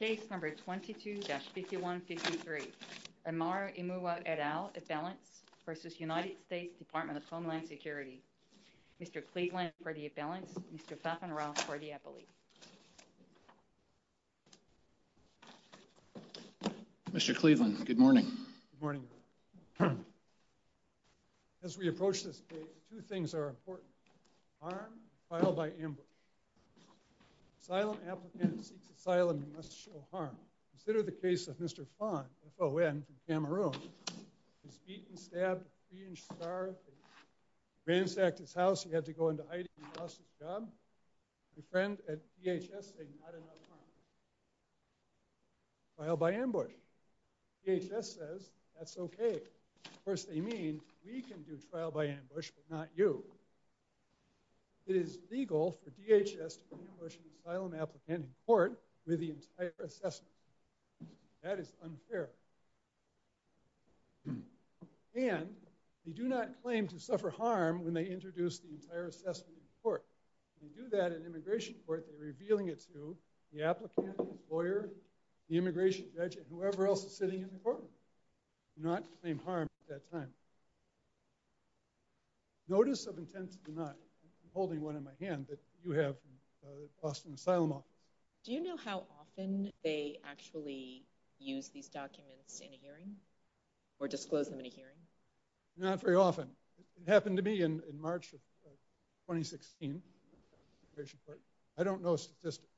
Case No. 22-5153. Amara Emuwa et al. Appellants v. United States Department of Homeland Security. Mr. Cleveland for the appellants. Mr. Pfaffenroth for the appellate. Mr. Cleveland, good morning. Good morning. As we approach this case, two things are important. Harm. Trial by ambush. Asylum applicant seeks asylum and must show harm. Consider the case of Mr. Fon, F-O-N, from Cameroon. He was beaten, stabbed, three-inch scarred. They ransacked his house. He had to go into hiding. He lost his job. A friend at DHS said, not enough harm. Trial by ambush. DHS says, that's okay. Of course, they mean, we can do trial by ambush, but not you. It is legal for DHS to ambush an asylum applicant in court with the entire assessment. That is unfair. And, they do not claim to suffer harm when they introduce the entire assessment in court. When they do that in immigration court, they're revealing it to the applicant, his lawyer, the immigration judge, and whoever else is sitting in the courtroom. They do not claim harm at that time. Notice of intent to deny. I'm holding one in my hand that you have from the Boston Asylum Office. Do you know how often they actually use these documents in a hearing? Or disclose them in a hearing? Not very often. It happened to me in March of 2016. I don't know statistics.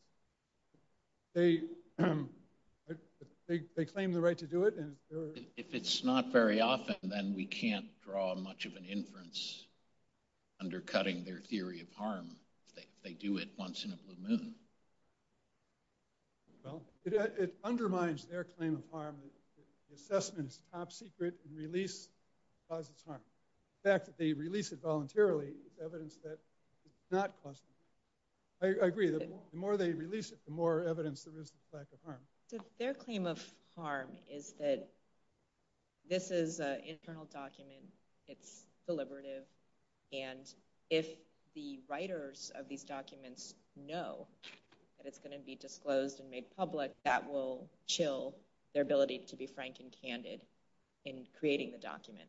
They claim the right to do it. If it's not very often, then we can't draw much of an inference undercutting their theory of harm. They do it once in a blue moon. Well, it undermines their claim of harm. The assessment is top secret and release causes harm. The fact that they release it voluntarily is evidence that it's not causing harm. I agree. The more they release it, the more evidence there is of lack of harm. Their claim of harm is that this is an internal document. It's deliberative. And if the writers of these documents know that it's going to be disclosed and made public, that will chill their ability to be frank and candid in creating the document.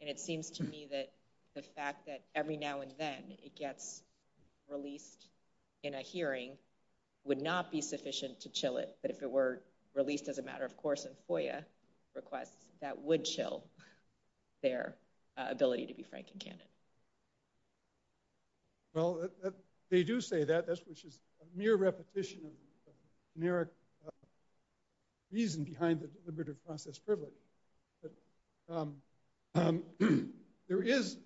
And it seems to me that the fact that every now and then it gets released in a hearing would not be sufficient to chill it. But if it were released as a matter of course in FOIA requests, that would chill their ability to be frank and candid. Well, they do say that. Which is a mere repetition of generic reason behind the deliberative process privilege. There is,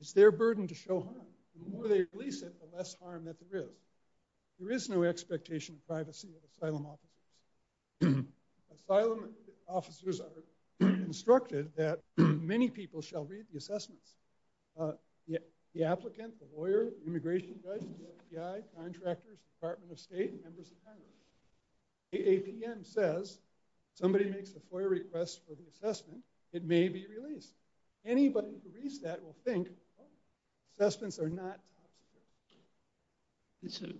it's their burden to show harm. The more they release it, the less harm that there is. There is no expectation of privacy of asylum officers. Asylum officers are instructed that many people shall read the assessments. The applicant, the lawyer, the immigration judge, the FBI, contractors, Department of State, members of Congress. If APM says somebody makes a FOIA request for the assessment, it may be released. Anybody who reads that will think, oh, assessments are not top secret.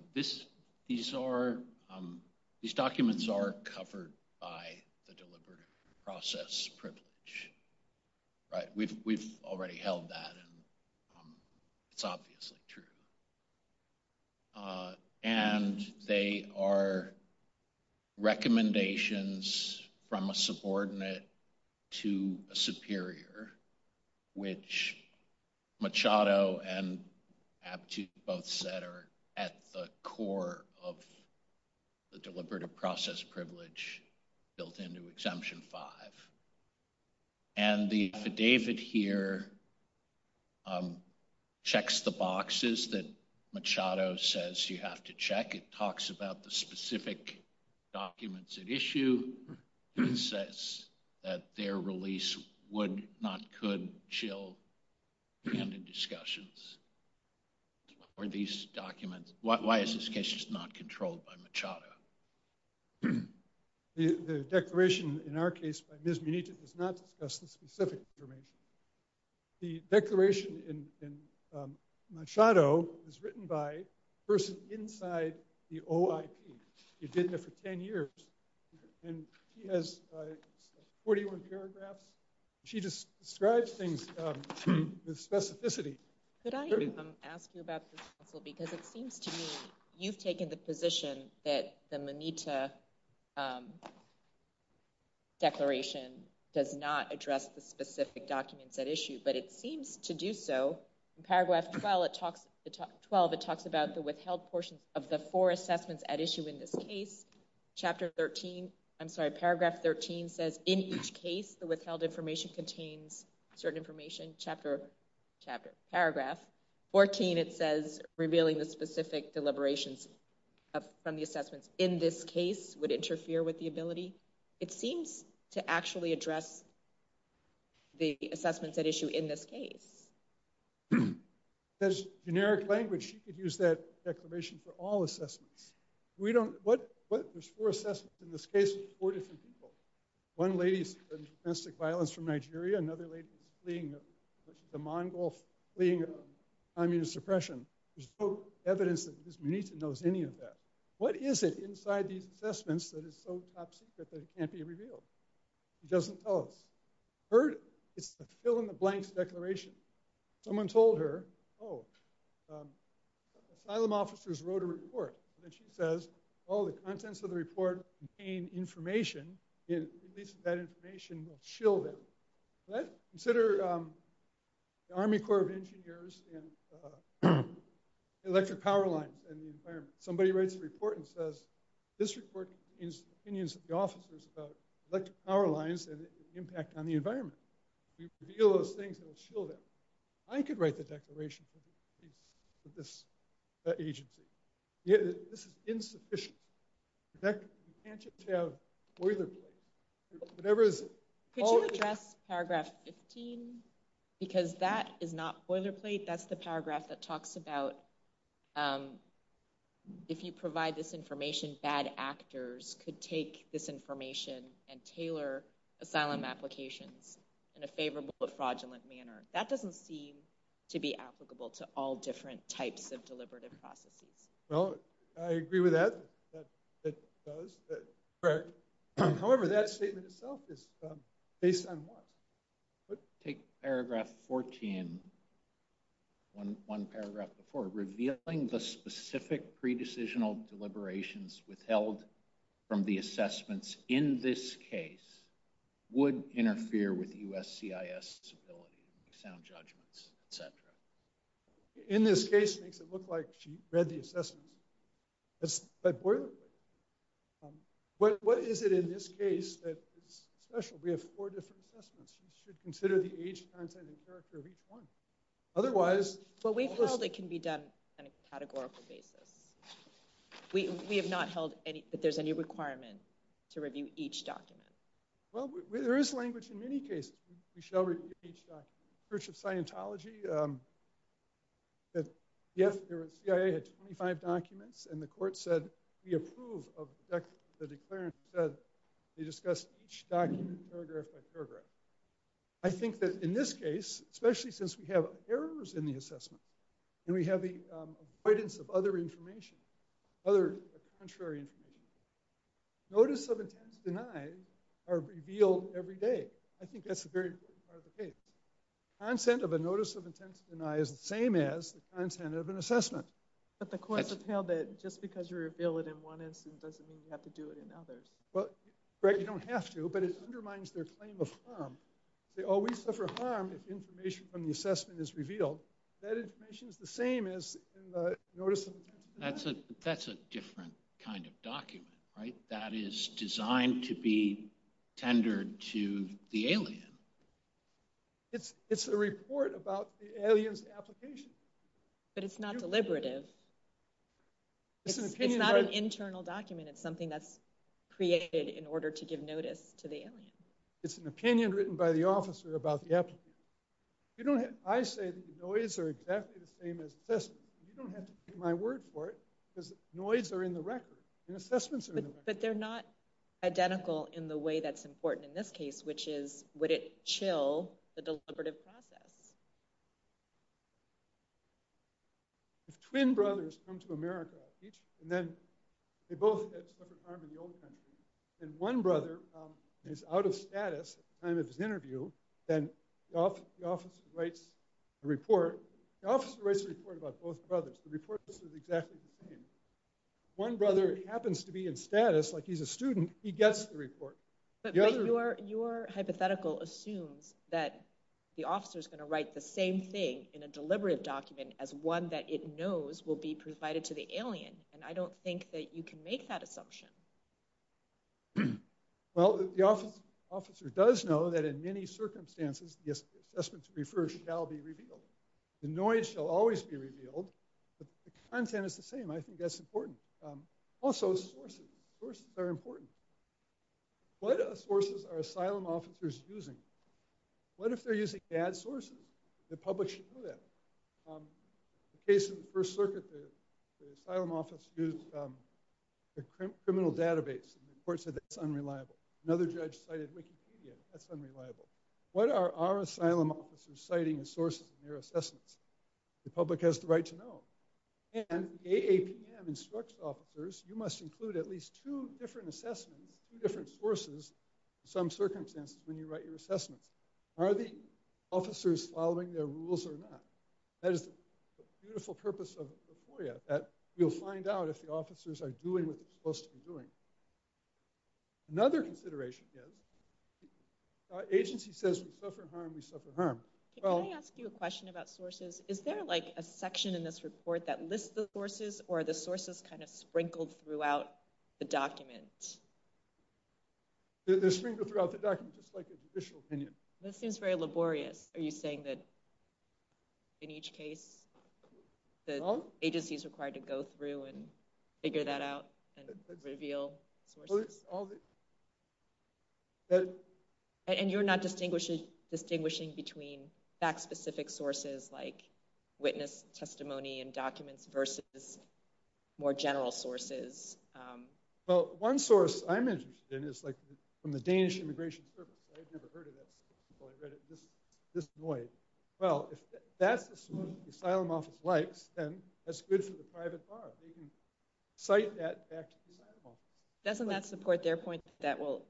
These documents are covered by the deliberative process privilege. We've already held that. It's obviously true. And they are recommendations from a subordinate to a superior. Which Machado and Aptu both said are at the core of the deliberative process privilege built into Exemption 5. And the fidevit here checks the boxes that Machado says you have to check. It talks about the specific documents at issue. It says that their release would not, could chill candid discussions. Why is this case just not controlled by Machado? The declaration in our case by Ms. Munita does not discuss the specific information. The declaration in Machado is written by a person inside the OIP. You've been there for 10 years. And she has 41 paragraphs. She describes things with specificity. Could I ask you about this, counsel, because it seems to me you've taken the position that the Munita declaration does not address the specific documents at issue. But it seems to do so. Paragraph 12, it talks about the withheld portions of the four assessments at issue in this case. Chapter 13, I'm sorry, paragraph 13 says in each case the withheld information contains certain information. Chapter, paragraph 14, it says revealing the specific deliberations from the assessments in this case would interfere with the ability. It seems to actually address the assessments at issue in this case. There's generic language. You could use that declaration for all assessments. We don't, what, there's four assessments in this case with four different people. One lady's domestic violence from Nigeria. Another lady's fleeing the Mongols, fleeing communist oppression. There's no evidence that Ms. Munita knows any of that. What is it inside these assessments that is so top secret that it can't be revealed? It doesn't tell us. It's the fill-in-the-blanks declaration. Someone told her, oh, asylum officers wrote a report. And then she says, oh, the contents of the report contain information. At least that information will chill them. Consider the Army Corps of Engineers and electric power lines and the environment. Somebody writes a report and says this report contains opinions of the officers about electric power lines and the impact on the environment. If we reveal those things, it will chill them. I could write the declaration for this agency. This is insufficient. You can't just have boilerplate. Could you address paragraph 15? Because that is not boilerplate. That's the paragraph that talks about if you provide this information, bad actors could take this information and tailor asylum applications in a favorable but fraudulent manner. That doesn't seem to be applicable to all different types of deliberative processes. Well, I agree with that. It does. However, that statement itself is based on what? Take paragraph 14, one paragraph before. Revealing the specific pre-decisional deliberations withheld from the assessments in this case would interfere with USCIS' ability to make sound judgments, et cetera. In this case, it makes it look like she read the assessments. That's boilerplate. What is it in this case that is special? We have four different assessments. You should consider the age, content, and character of each one. Otherwise... What we've held, it can be done on a categorical basis. We have not held that there's any requirement to review each document. Well, there is language in many cases. We shall review each document. In the case of Church of Scientology, the CIA had 25 documents, and the court said, we approve of the declarant who said they discussed each document paragraph by paragraph. I think that in this case, especially since we have errors in the assessment and we have the avoidance of other information, other contrary information, notice of intent denied are revealed every day. I think that's a very important part of the case. The content of a notice of intent denied is the same as the content of an assessment. But the courts have held that just because you reveal it in one instance doesn't mean you have to do it in others. Right, you don't have to, but it undermines their claim of harm. They always suffer harm if information from the assessment is revealed. That information is the same as in the notice of intent denied. That's a different kind of document, right? That is designed to be tendered to the alien. It's a report about the alien's application. But it's not deliberative. It's not an internal document. It's something that's created in order to give notice to the alien. It's an opinion written by the officer about the applicant. I say that the noise are exactly the same as assessment. You don't have to take my word for it, because noise are in the record, and assessments are in the record. But they're not identical in the way that's important in this case, which is, would it chill the deliberative process? If twin brothers come to America, and then they both have suffered harm in the old country, and one brother is out of status at the time of his interview, then the officer writes a report. The officer writes a report about both brothers. The report is exactly the same. If one brother happens to be in status, like he's a student, he gets the report. But your hypothetical assumes that the officer is going to write the same thing in a deliberative document as one that it knows will be provided to the alien. And I don't think that you can make that assumption. Well, the officer does know that in many circumstances, the assessments referred shall be revealed. The noise shall always be revealed. The content is the same. I think that's important. Also, sources. Sources are important. What sources are asylum officers using? What if they're using bad sources? The public should know that. In the case of the First Circuit, the asylum office used a criminal database, and the court said that's unreliable. Another judge cited Wikipedia. That's unreliable. What are our asylum officers citing as sources in their assessments? The public has the right to know. And AAPM instructs officers, you must include at least two different assessments, two different sources in some circumstances when you write your assessments. Are the officers following their rules or not? That is the beautiful purpose of FOIA, that you'll find out if the officers are doing what they're supposed to be doing. Another consideration is, the agency says we suffer harm, we suffer harm. Can I ask you a question about sources? Is there, like, a section in this report that lists the sources, or are the sources kind of sprinkled throughout the document? They're sprinkled throughout the document, just like an additional opinion. This seems very laborious. Are you saying that in each case, the agency is required to go through and figure that out and reveal sources? And you're not distinguishing between fact-specific sources, like witness testimony and documents, versus more general sources? Well, one source I'm interested in is, like, from the Danish Immigration Service. I had never heard of that, so I read it and was just annoyed. Well, if that's the source the asylum office likes, then that's good for the private bar. They can cite that back to the asylum office. Doesn't that support their point that that will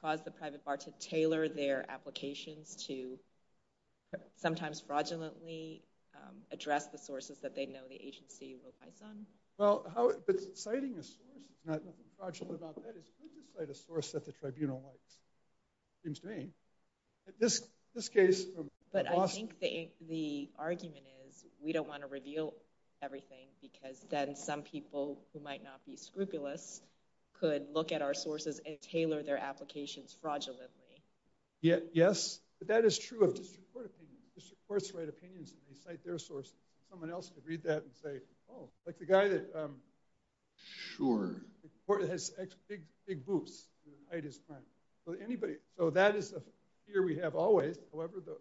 cause the private bar to tailor their applications to sometimes fraudulently address the sources that they know the agency relies on? Well, but citing a source, there's nothing fraudulent about that. It's good to cite a source that the tribunal likes, it seems to me. But I think the argument is, we don't want to reveal everything, because then some people who might not be scrupulous could look at our sources and tailor their applications fraudulently. Yes, but that is true of district court opinions. District courts write opinions, and they cite their sources. Someone else could read that and say, oh, like the guy that— Sure. The court that has big boobs. So that is a fear we have always. However, the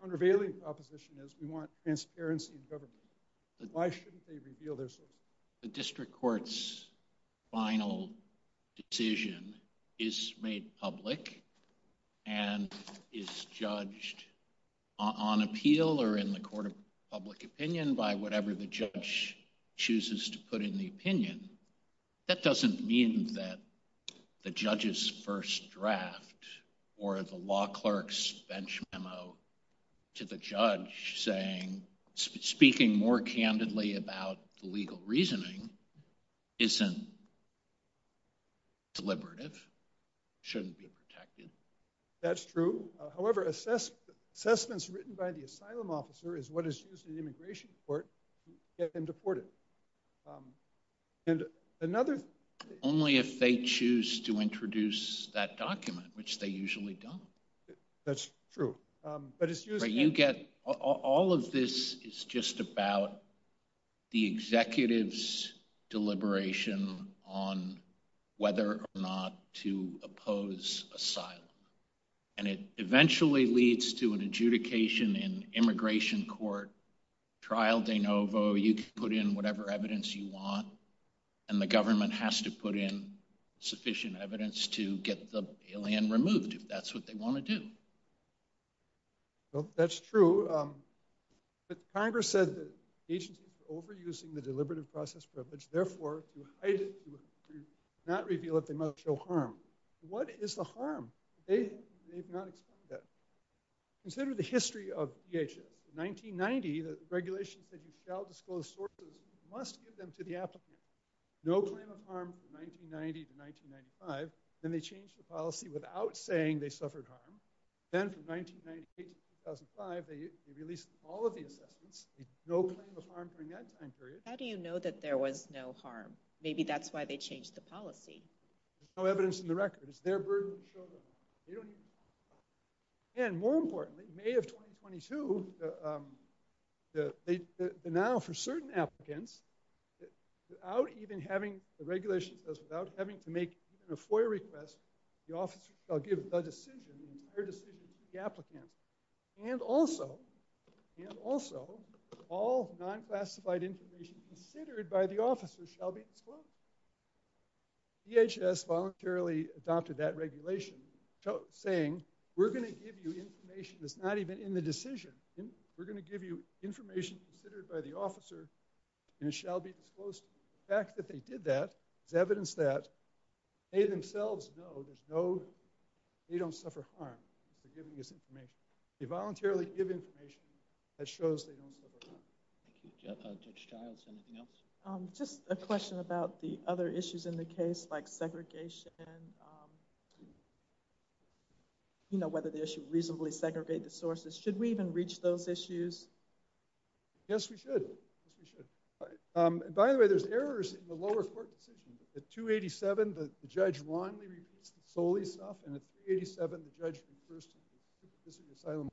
countervailing proposition is we want transparency in government. Why shouldn't they reveal their sources? The district court's final decision is made public and is judged on appeal or in the court of public opinion by whatever the judge chooses to put in the opinion. That doesn't mean that the judge's first draft or the law clerk's bench memo to the judge saying speaking more candidly about the legal reasoning isn't deliberative, shouldn't be protected. That's true. However, assessments written by the asylum officer is what is used in immigration court to get them deported. Only if they choose to introduce that document, which they usually don't. That's true. All of this is just about the executive's deliberation on whether or not to oppose asylum. And it eventually leads to an adjudication in immigration court, trial de novo, you can put in whatever evidence you want, and the government has to put in sufficient evidence to get the alien removed if that's what they want to do. Well, that's true. But Congress said that agencies were overusing the deliberative process privilege, therefore to hide it, to not reveal it, they must show harm. What is the harm? They've not explained that. Consider the history of DHS. In 1990, the regulations said you shall disclose sources, you must give them to the applicant. No claim of harm from 1990 to 1995. Then they changed the policy without saying they suffered harm. Then from 1998 to 2005, they released all of the assessments. No claim of harm during that time period. How do you know that there was no harm? Maybe that's why they changed the policy. There's no evidence in the record. It's their burden to show them. And more importantly, May of 2022, now for certain applicants, without even having the regulations, without having to make even a FOIA request, the officer shall give the decision, the entire decision to the applicant. And also, all non-classified information considered by the officer shall be disclosed. DHS voluntarily adopted that regulation saying, we're going to give you information that's not even in the decision. We're going to give you information considered by the officer and it shall be disclosed. The fact that they did that is evidence that they themselves know they don't suffer harm for giving this information. They voluntarily give information that shows they don't suffer harm. Thank you. Judge Giles, anything else? Just a question about the other issues in the case, like segregation. You know, whether they should reasonably segregate the sources. Should we even reach those issues? Yes, we should. By the way, there's errors in the lower court decision. At 287, the judge wrongly repeats the Solis stuff, and at 387, the judge refers to the district asylum law.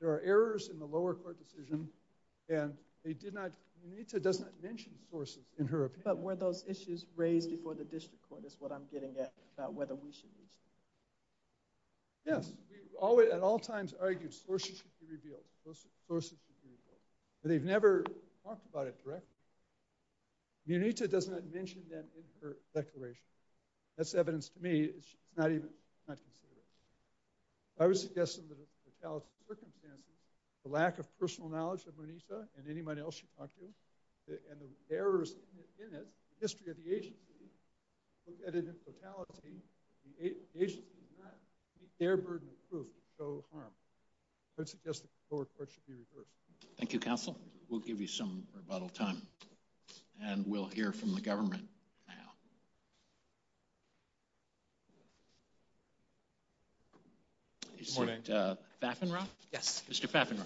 There are errors in the lower court decision. Munita does not mention sources in her opinion. But were those issues raised before the district court, is what I'm getting at, about whether we should reach them. Yes, we at all times argued sources should be revealed. Sources should be revealed. But they've never talked about it directly. Munita does not mention them in her declaration. That's evidence to me it's not even considered. I would suggest under the fatality circumstances, the lack of personal knowledge of Munita and anyone else she talked to, and the errors in it, the history of the agency, look at it in totality. The agency did not meet their burden of proof to show harm. I would suggest the lower court should be reversed. Thank you, counsel. We'll give you some rebuttal time. And we'll hear from the government now. Good morning. Mr. Pfaffenroth? Yes. Mr. Pfaffenroth.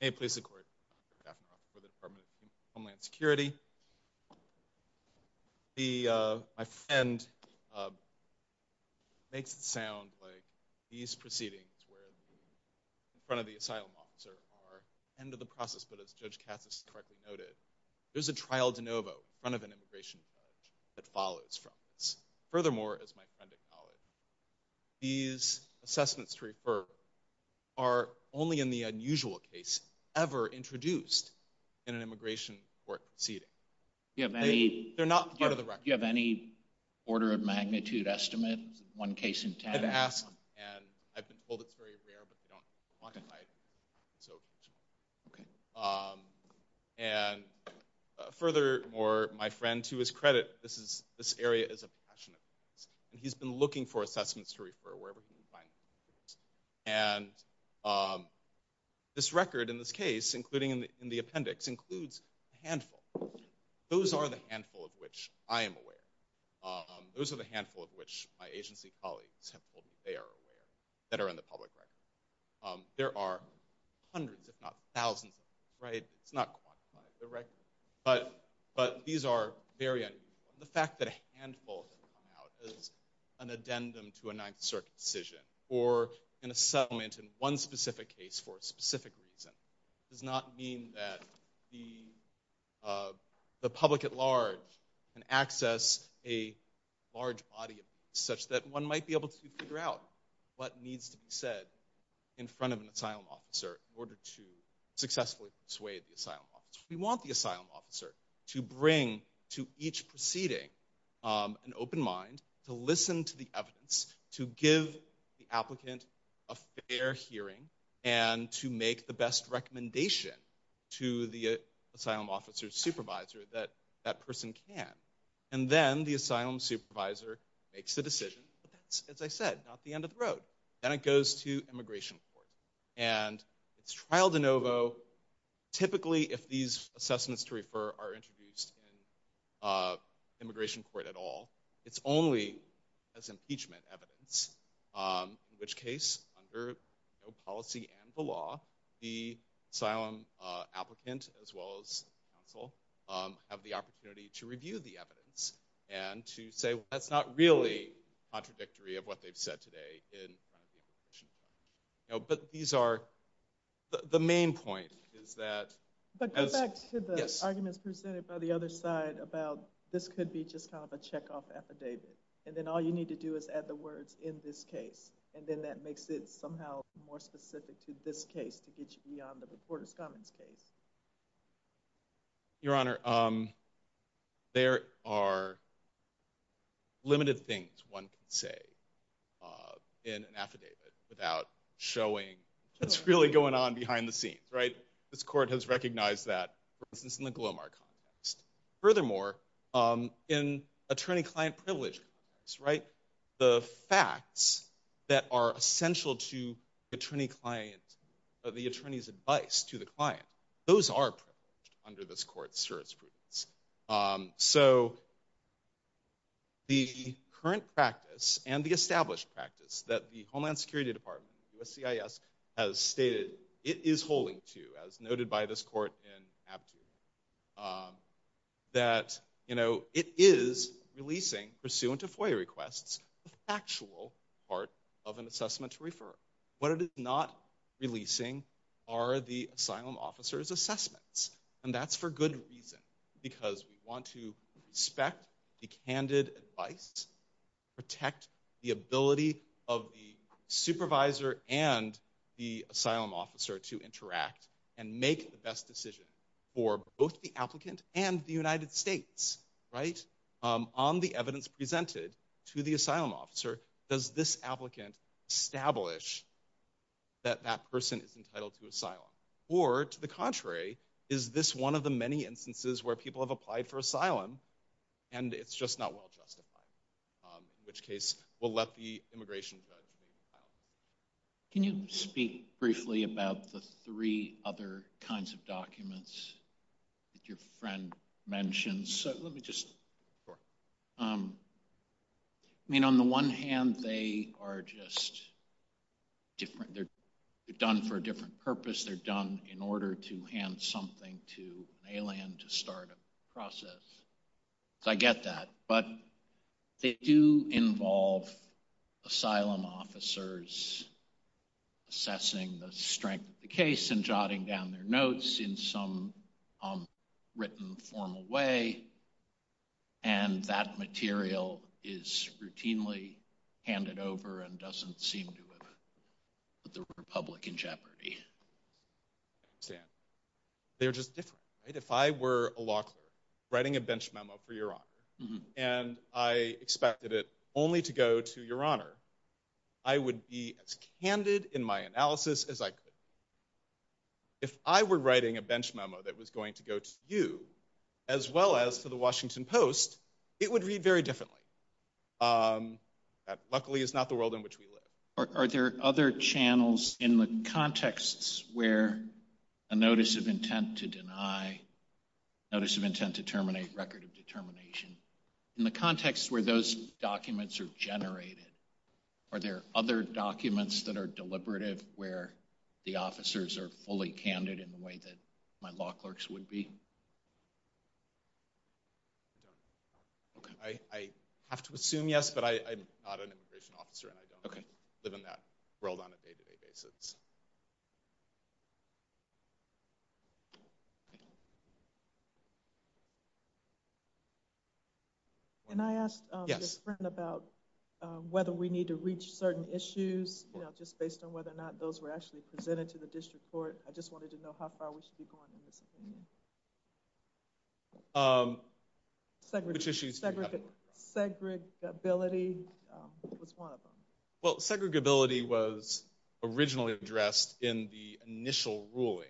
May it please the court, I'm Dr. Pfaffenroth for the Department of Homeland Security. My friend makes it sound like these proceedings, where in front of the asylum officer are the end of the process, but as Judge Cassis correctly noted, there's a trial de novo in front of an immigration judge that follows from this. Furthermore, as my friend acknowledged, these assessments to refer are only in the unusual case ever introduced in an immigration court proceeding. They're not part of the record. Do you have any order of magnitude estimate, one case in ten? I've asked, and I've been told it's very rare, but they don't quantify it. Okay. And furthermore, my friend, to his credit, this area is a passionate place, and he's been looking for assessments to refer wherever he can find them. And this record in this case, including in the appendix, includes a handful. Those are the handful of which I am aware. Those are the handful of which my agency colleagues have told me they are aware, that are in the public record. There are hundreds, if not thousands, right? It's not quantified directly. But these are very unusual. The fact that a handful has come out as an addendum to a Ninth Circuit decision or an assessment in one specific case for a specific reason does not mean that the public at large can access a large body of evidence such that one might be able to figure out what needs to be said in front of an asylum officer in order to successfully persuade the asylum officer. We want the asylum officer to bring to each proceeding an open mind, to listen to the evidence, to give the applicant a fair hearing, and to make the best recommendation to the asylum officer's supervisor that that person can. And then the asylum supervisor makes the decision. But that's, as I said, not the end of the road. Then it goes to immigration court. And it's trial de novo. Typically, if these assessments to refer are introduced in immigration court at all, it's only as impeachment evidence. In which case, under policy and the law, the asylum applicant, as well as counsel, have the opportunity to review the evidence and to say, well, that's not really contradictory of what they've said today in front of the immigration court. But these are the main point is that as yes. But go back to the arguments presented by the other side about this could be just kind of a checkoff affidavit. And then all you need to do is add the words in this case. And then that makes it somehow more specific to this case to get you beyond the reporter's comments case. Your Honor, there are limited things one can say in an affidavit without showing what's really going on behind the scenes. This court has recognized that, for instance, in the Glomar context. Furthermore, in attorney-client privilege, the facts that are essential to the attorney's advice to the client, those are privileged under this court's jurisprudence. So the current practice and the established practice that the Homeland Security Department, USCIS, has stated it is holding to, as noted by this court in Abdu, that it is releasing, pursuant to FOIA requests, the factual part of an assessment to refer. What it is not releasing are the asylum officer's assessments. And that's for good reason. Because we want to respect the candid advice, protect the ability of the supervisor and the asylum officer to interact and make the best decision for both the applicant and the United States. On the evidence presented to the asylum officer, does this applicant establish that that person is entitled to asylum? Or, to the contrary, is this one of the many instances where people have applied for asylum and it's just not well justified? In which case, we'll let the immigration judge make the filing. Can you speak briefly about the three other kinds of documents that your friend mentioned? Sure. I mean, on the one hand, they are just different. They're done for a different purpose. They're done in order to hand something to an alien to start a process. So I get that. But they do involve asylum officers assessing the strength of the case and jotting down their notes in some written formal way. And that material is routinely handed over and doesn't seem to have put the Republic in jeopardy. I understand. They're just different. If I were a law clerk writing a bench memo for Your Honor and I expected it only to go to Your Honor, I would be as candid in my analysis as I could. If I were writing a bench memo that was going to go to you, as well as to The Washington Post, it would read very differently. That, luckily, is not the world in which we live. Are there other channels in the contexts where a notice of intent to deny, notice of intent to terminate, record of determination, in the context where those documents are generated, are there other documents that are deliberative where the officers are fully candid in the way that my law clerks would be? I have to assume yes, but I'm not an immigration officer and I don't live in that world on a day-to-day basis. Can I ask your friend about whether we need to reach certain issues, just based on whether or not those were actually presented to the district court? I just wanted to know how far we should be going in this opinion. Which issues do you have in mind? Segregability was one of them. Well, segregability was originally addressed in the initial ruling,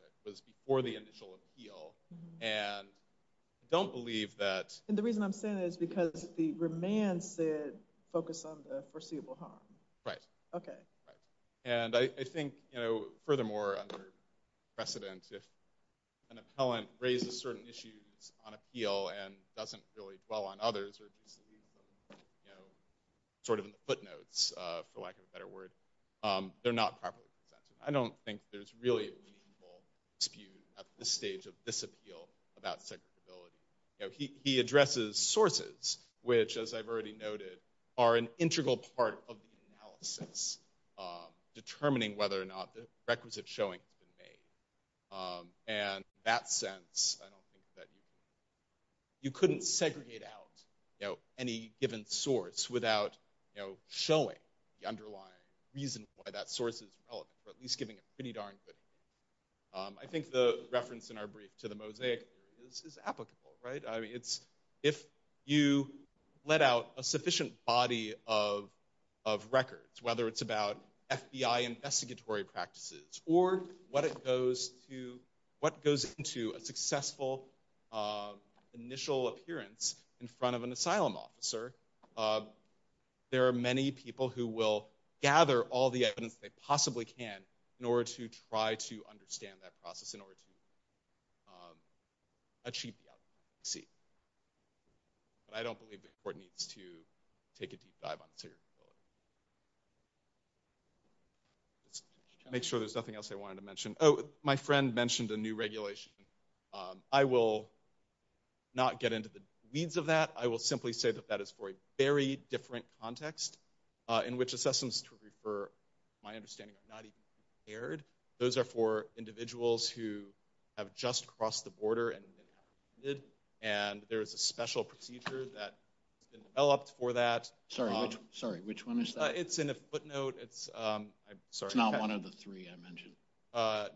which was before the initial appeal, and I don't believe that— And the reason I'm saying that is because the remand said, focus on the foreseeable harm. Right. Okay. And I think, furthermore, under precedent, I think if an appellant raises certain issues on appeal and doesn't really dwell on others, or just sort of in the footnotes, for lack of a better word, they're not properly presented. I don't think there's really a meaningful dispute at this stage of this appeal about segregability. He addresses sources, which, as I've already noted, are an integral part of the analysis, determining whether or not the requisite showing has been made. And in that sense, I don't think that you— You couldn't segregate out any given source without showing the underlying reason why that source is relevant, or at least giving a pretty darn good reason. I think the reference in our brief to the mosaic is applicable, right? If you let out a sufficient body of records, whether it's about FBI investigatory practices or what goes into a successful initial appearance in front of an asylum officer, there are many people who will gather all the evidence they possibly can in order to try to understand that process, in order to achieve the outcome they see. But I don't believe the court needs to take a deep dive on segregability. Make sure there's nothing else I wanted to mention. Oh, my friend mentioned a new regulation. I will not get into the weeds of that. I will simply say that that is for a very different context in which assessments to refer, to my understanding, are not even compared. Those are for individuals who have just crossed the border and there is a special procedure that has been developed for that. Sorry, which one is that? It's in a footnote. It's not one of the three I mentioned.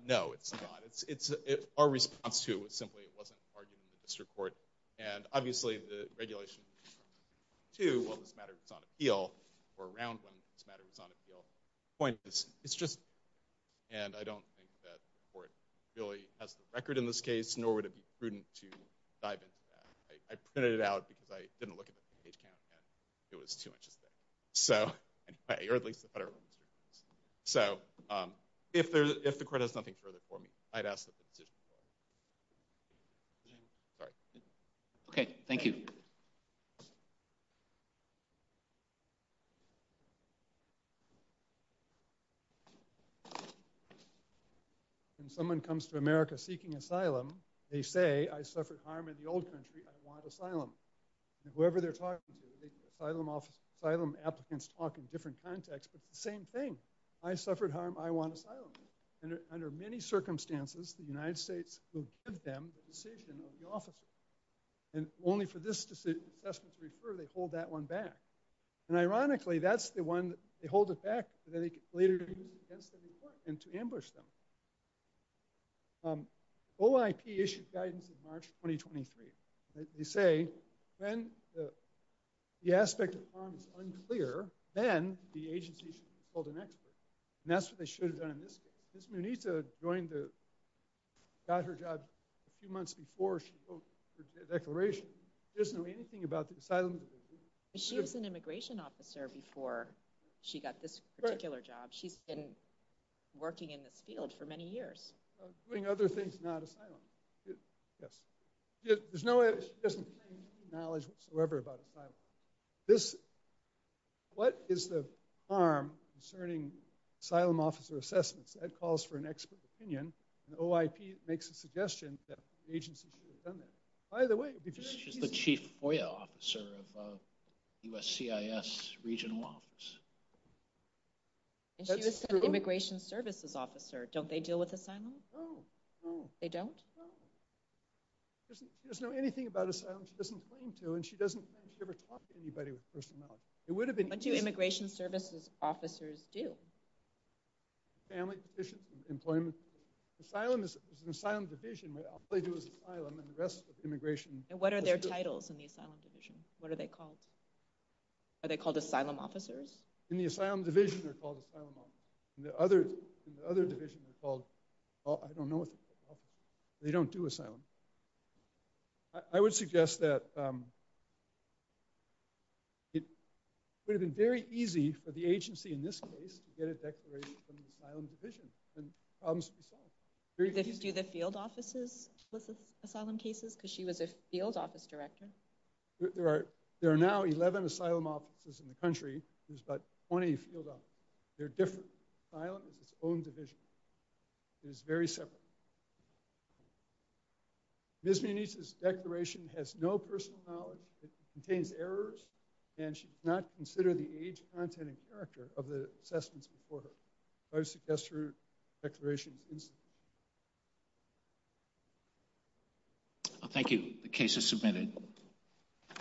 No, it's not. Our response to it was simply it wasn't argued in the district court. And obviously, the regulation to what this matter was on appeal, or around when this matter was on appeal, the point is, it's just, and I don't think that the court really has the record in this case, nor would it be prudent to dive into that. I printed it out because I didn't look at the page count, and it was too much to say. So, anyway, or at least the federal district courts. So, if the court has nothing further for me, I'd ask that the decision be made. Sorry. Okay, thank you. Thank you. When someone comes to America seeking asylum, they say, I suffered harm in the old country, I want asylum. And whoever they're talking to, asylum applicants talk in different contexts, but it's the same thing. I suffered harm, I want asylum. Under many circumstances, the United States will give them the decision of the officer. And only for this assessment to refer, they hold that one back. And ironically, that's the one, they hold it back, but then they can later use it against them in court, and to ambush them. OIP issued guidance in March 2023. They say, when the aspect of harm is unclear, then the agency should consult an expert. And that's what they should have done in this case. Ms. Muneeta joined the, got her job a few months before. She wrote her declaration. She doesn't know anything about the asylum division. She was an immigration officer before she got this particular job. She's been working in this field for many years. Doing other things, not asylum. Yes. There's no, she doesn't have any knowledge whatsoever about asylum. This, what is the harm concerning asylum officer assessments? That calls for an expert opinion. OIP makes a suggestion that the agency should have done that. By the way, she's the chief FOIA officer of USCIS regional office. And she was an immigration services officer. Don't they deal with asylum? No. They don't? No. She doesn't know anything about asylum. She doesn't claim to, and she doesn't think she ever talked to anybody with personality. What do immigration services officers do? Family, employment. Asylum is an asylum division. All they do is asylum, and the rest of immigration. And what are their titles in the asylum division? What are they called? Are they called asylum officers? In the asylum division, they're called asylum officers. In the other division, they're called, I don't know what they're called. They don't do asylum. I would suggest that it would have been very easy for the agency, in this case, to get a declaration from the asylum division, and problems would be solved. Do the field offices solicit asylum cases? Because she was a field office director. There are now 11 asylum offices in the country. There's about 20 field offices. They're different. Asylum is its own division. It is very separate. Ms. Munez's declaration has no personal knowledge. It contains errors, and she did not consider the age, content, and character of the assessments before her. I would suggest her declaration is insufficient. Thank you. The case is submitted.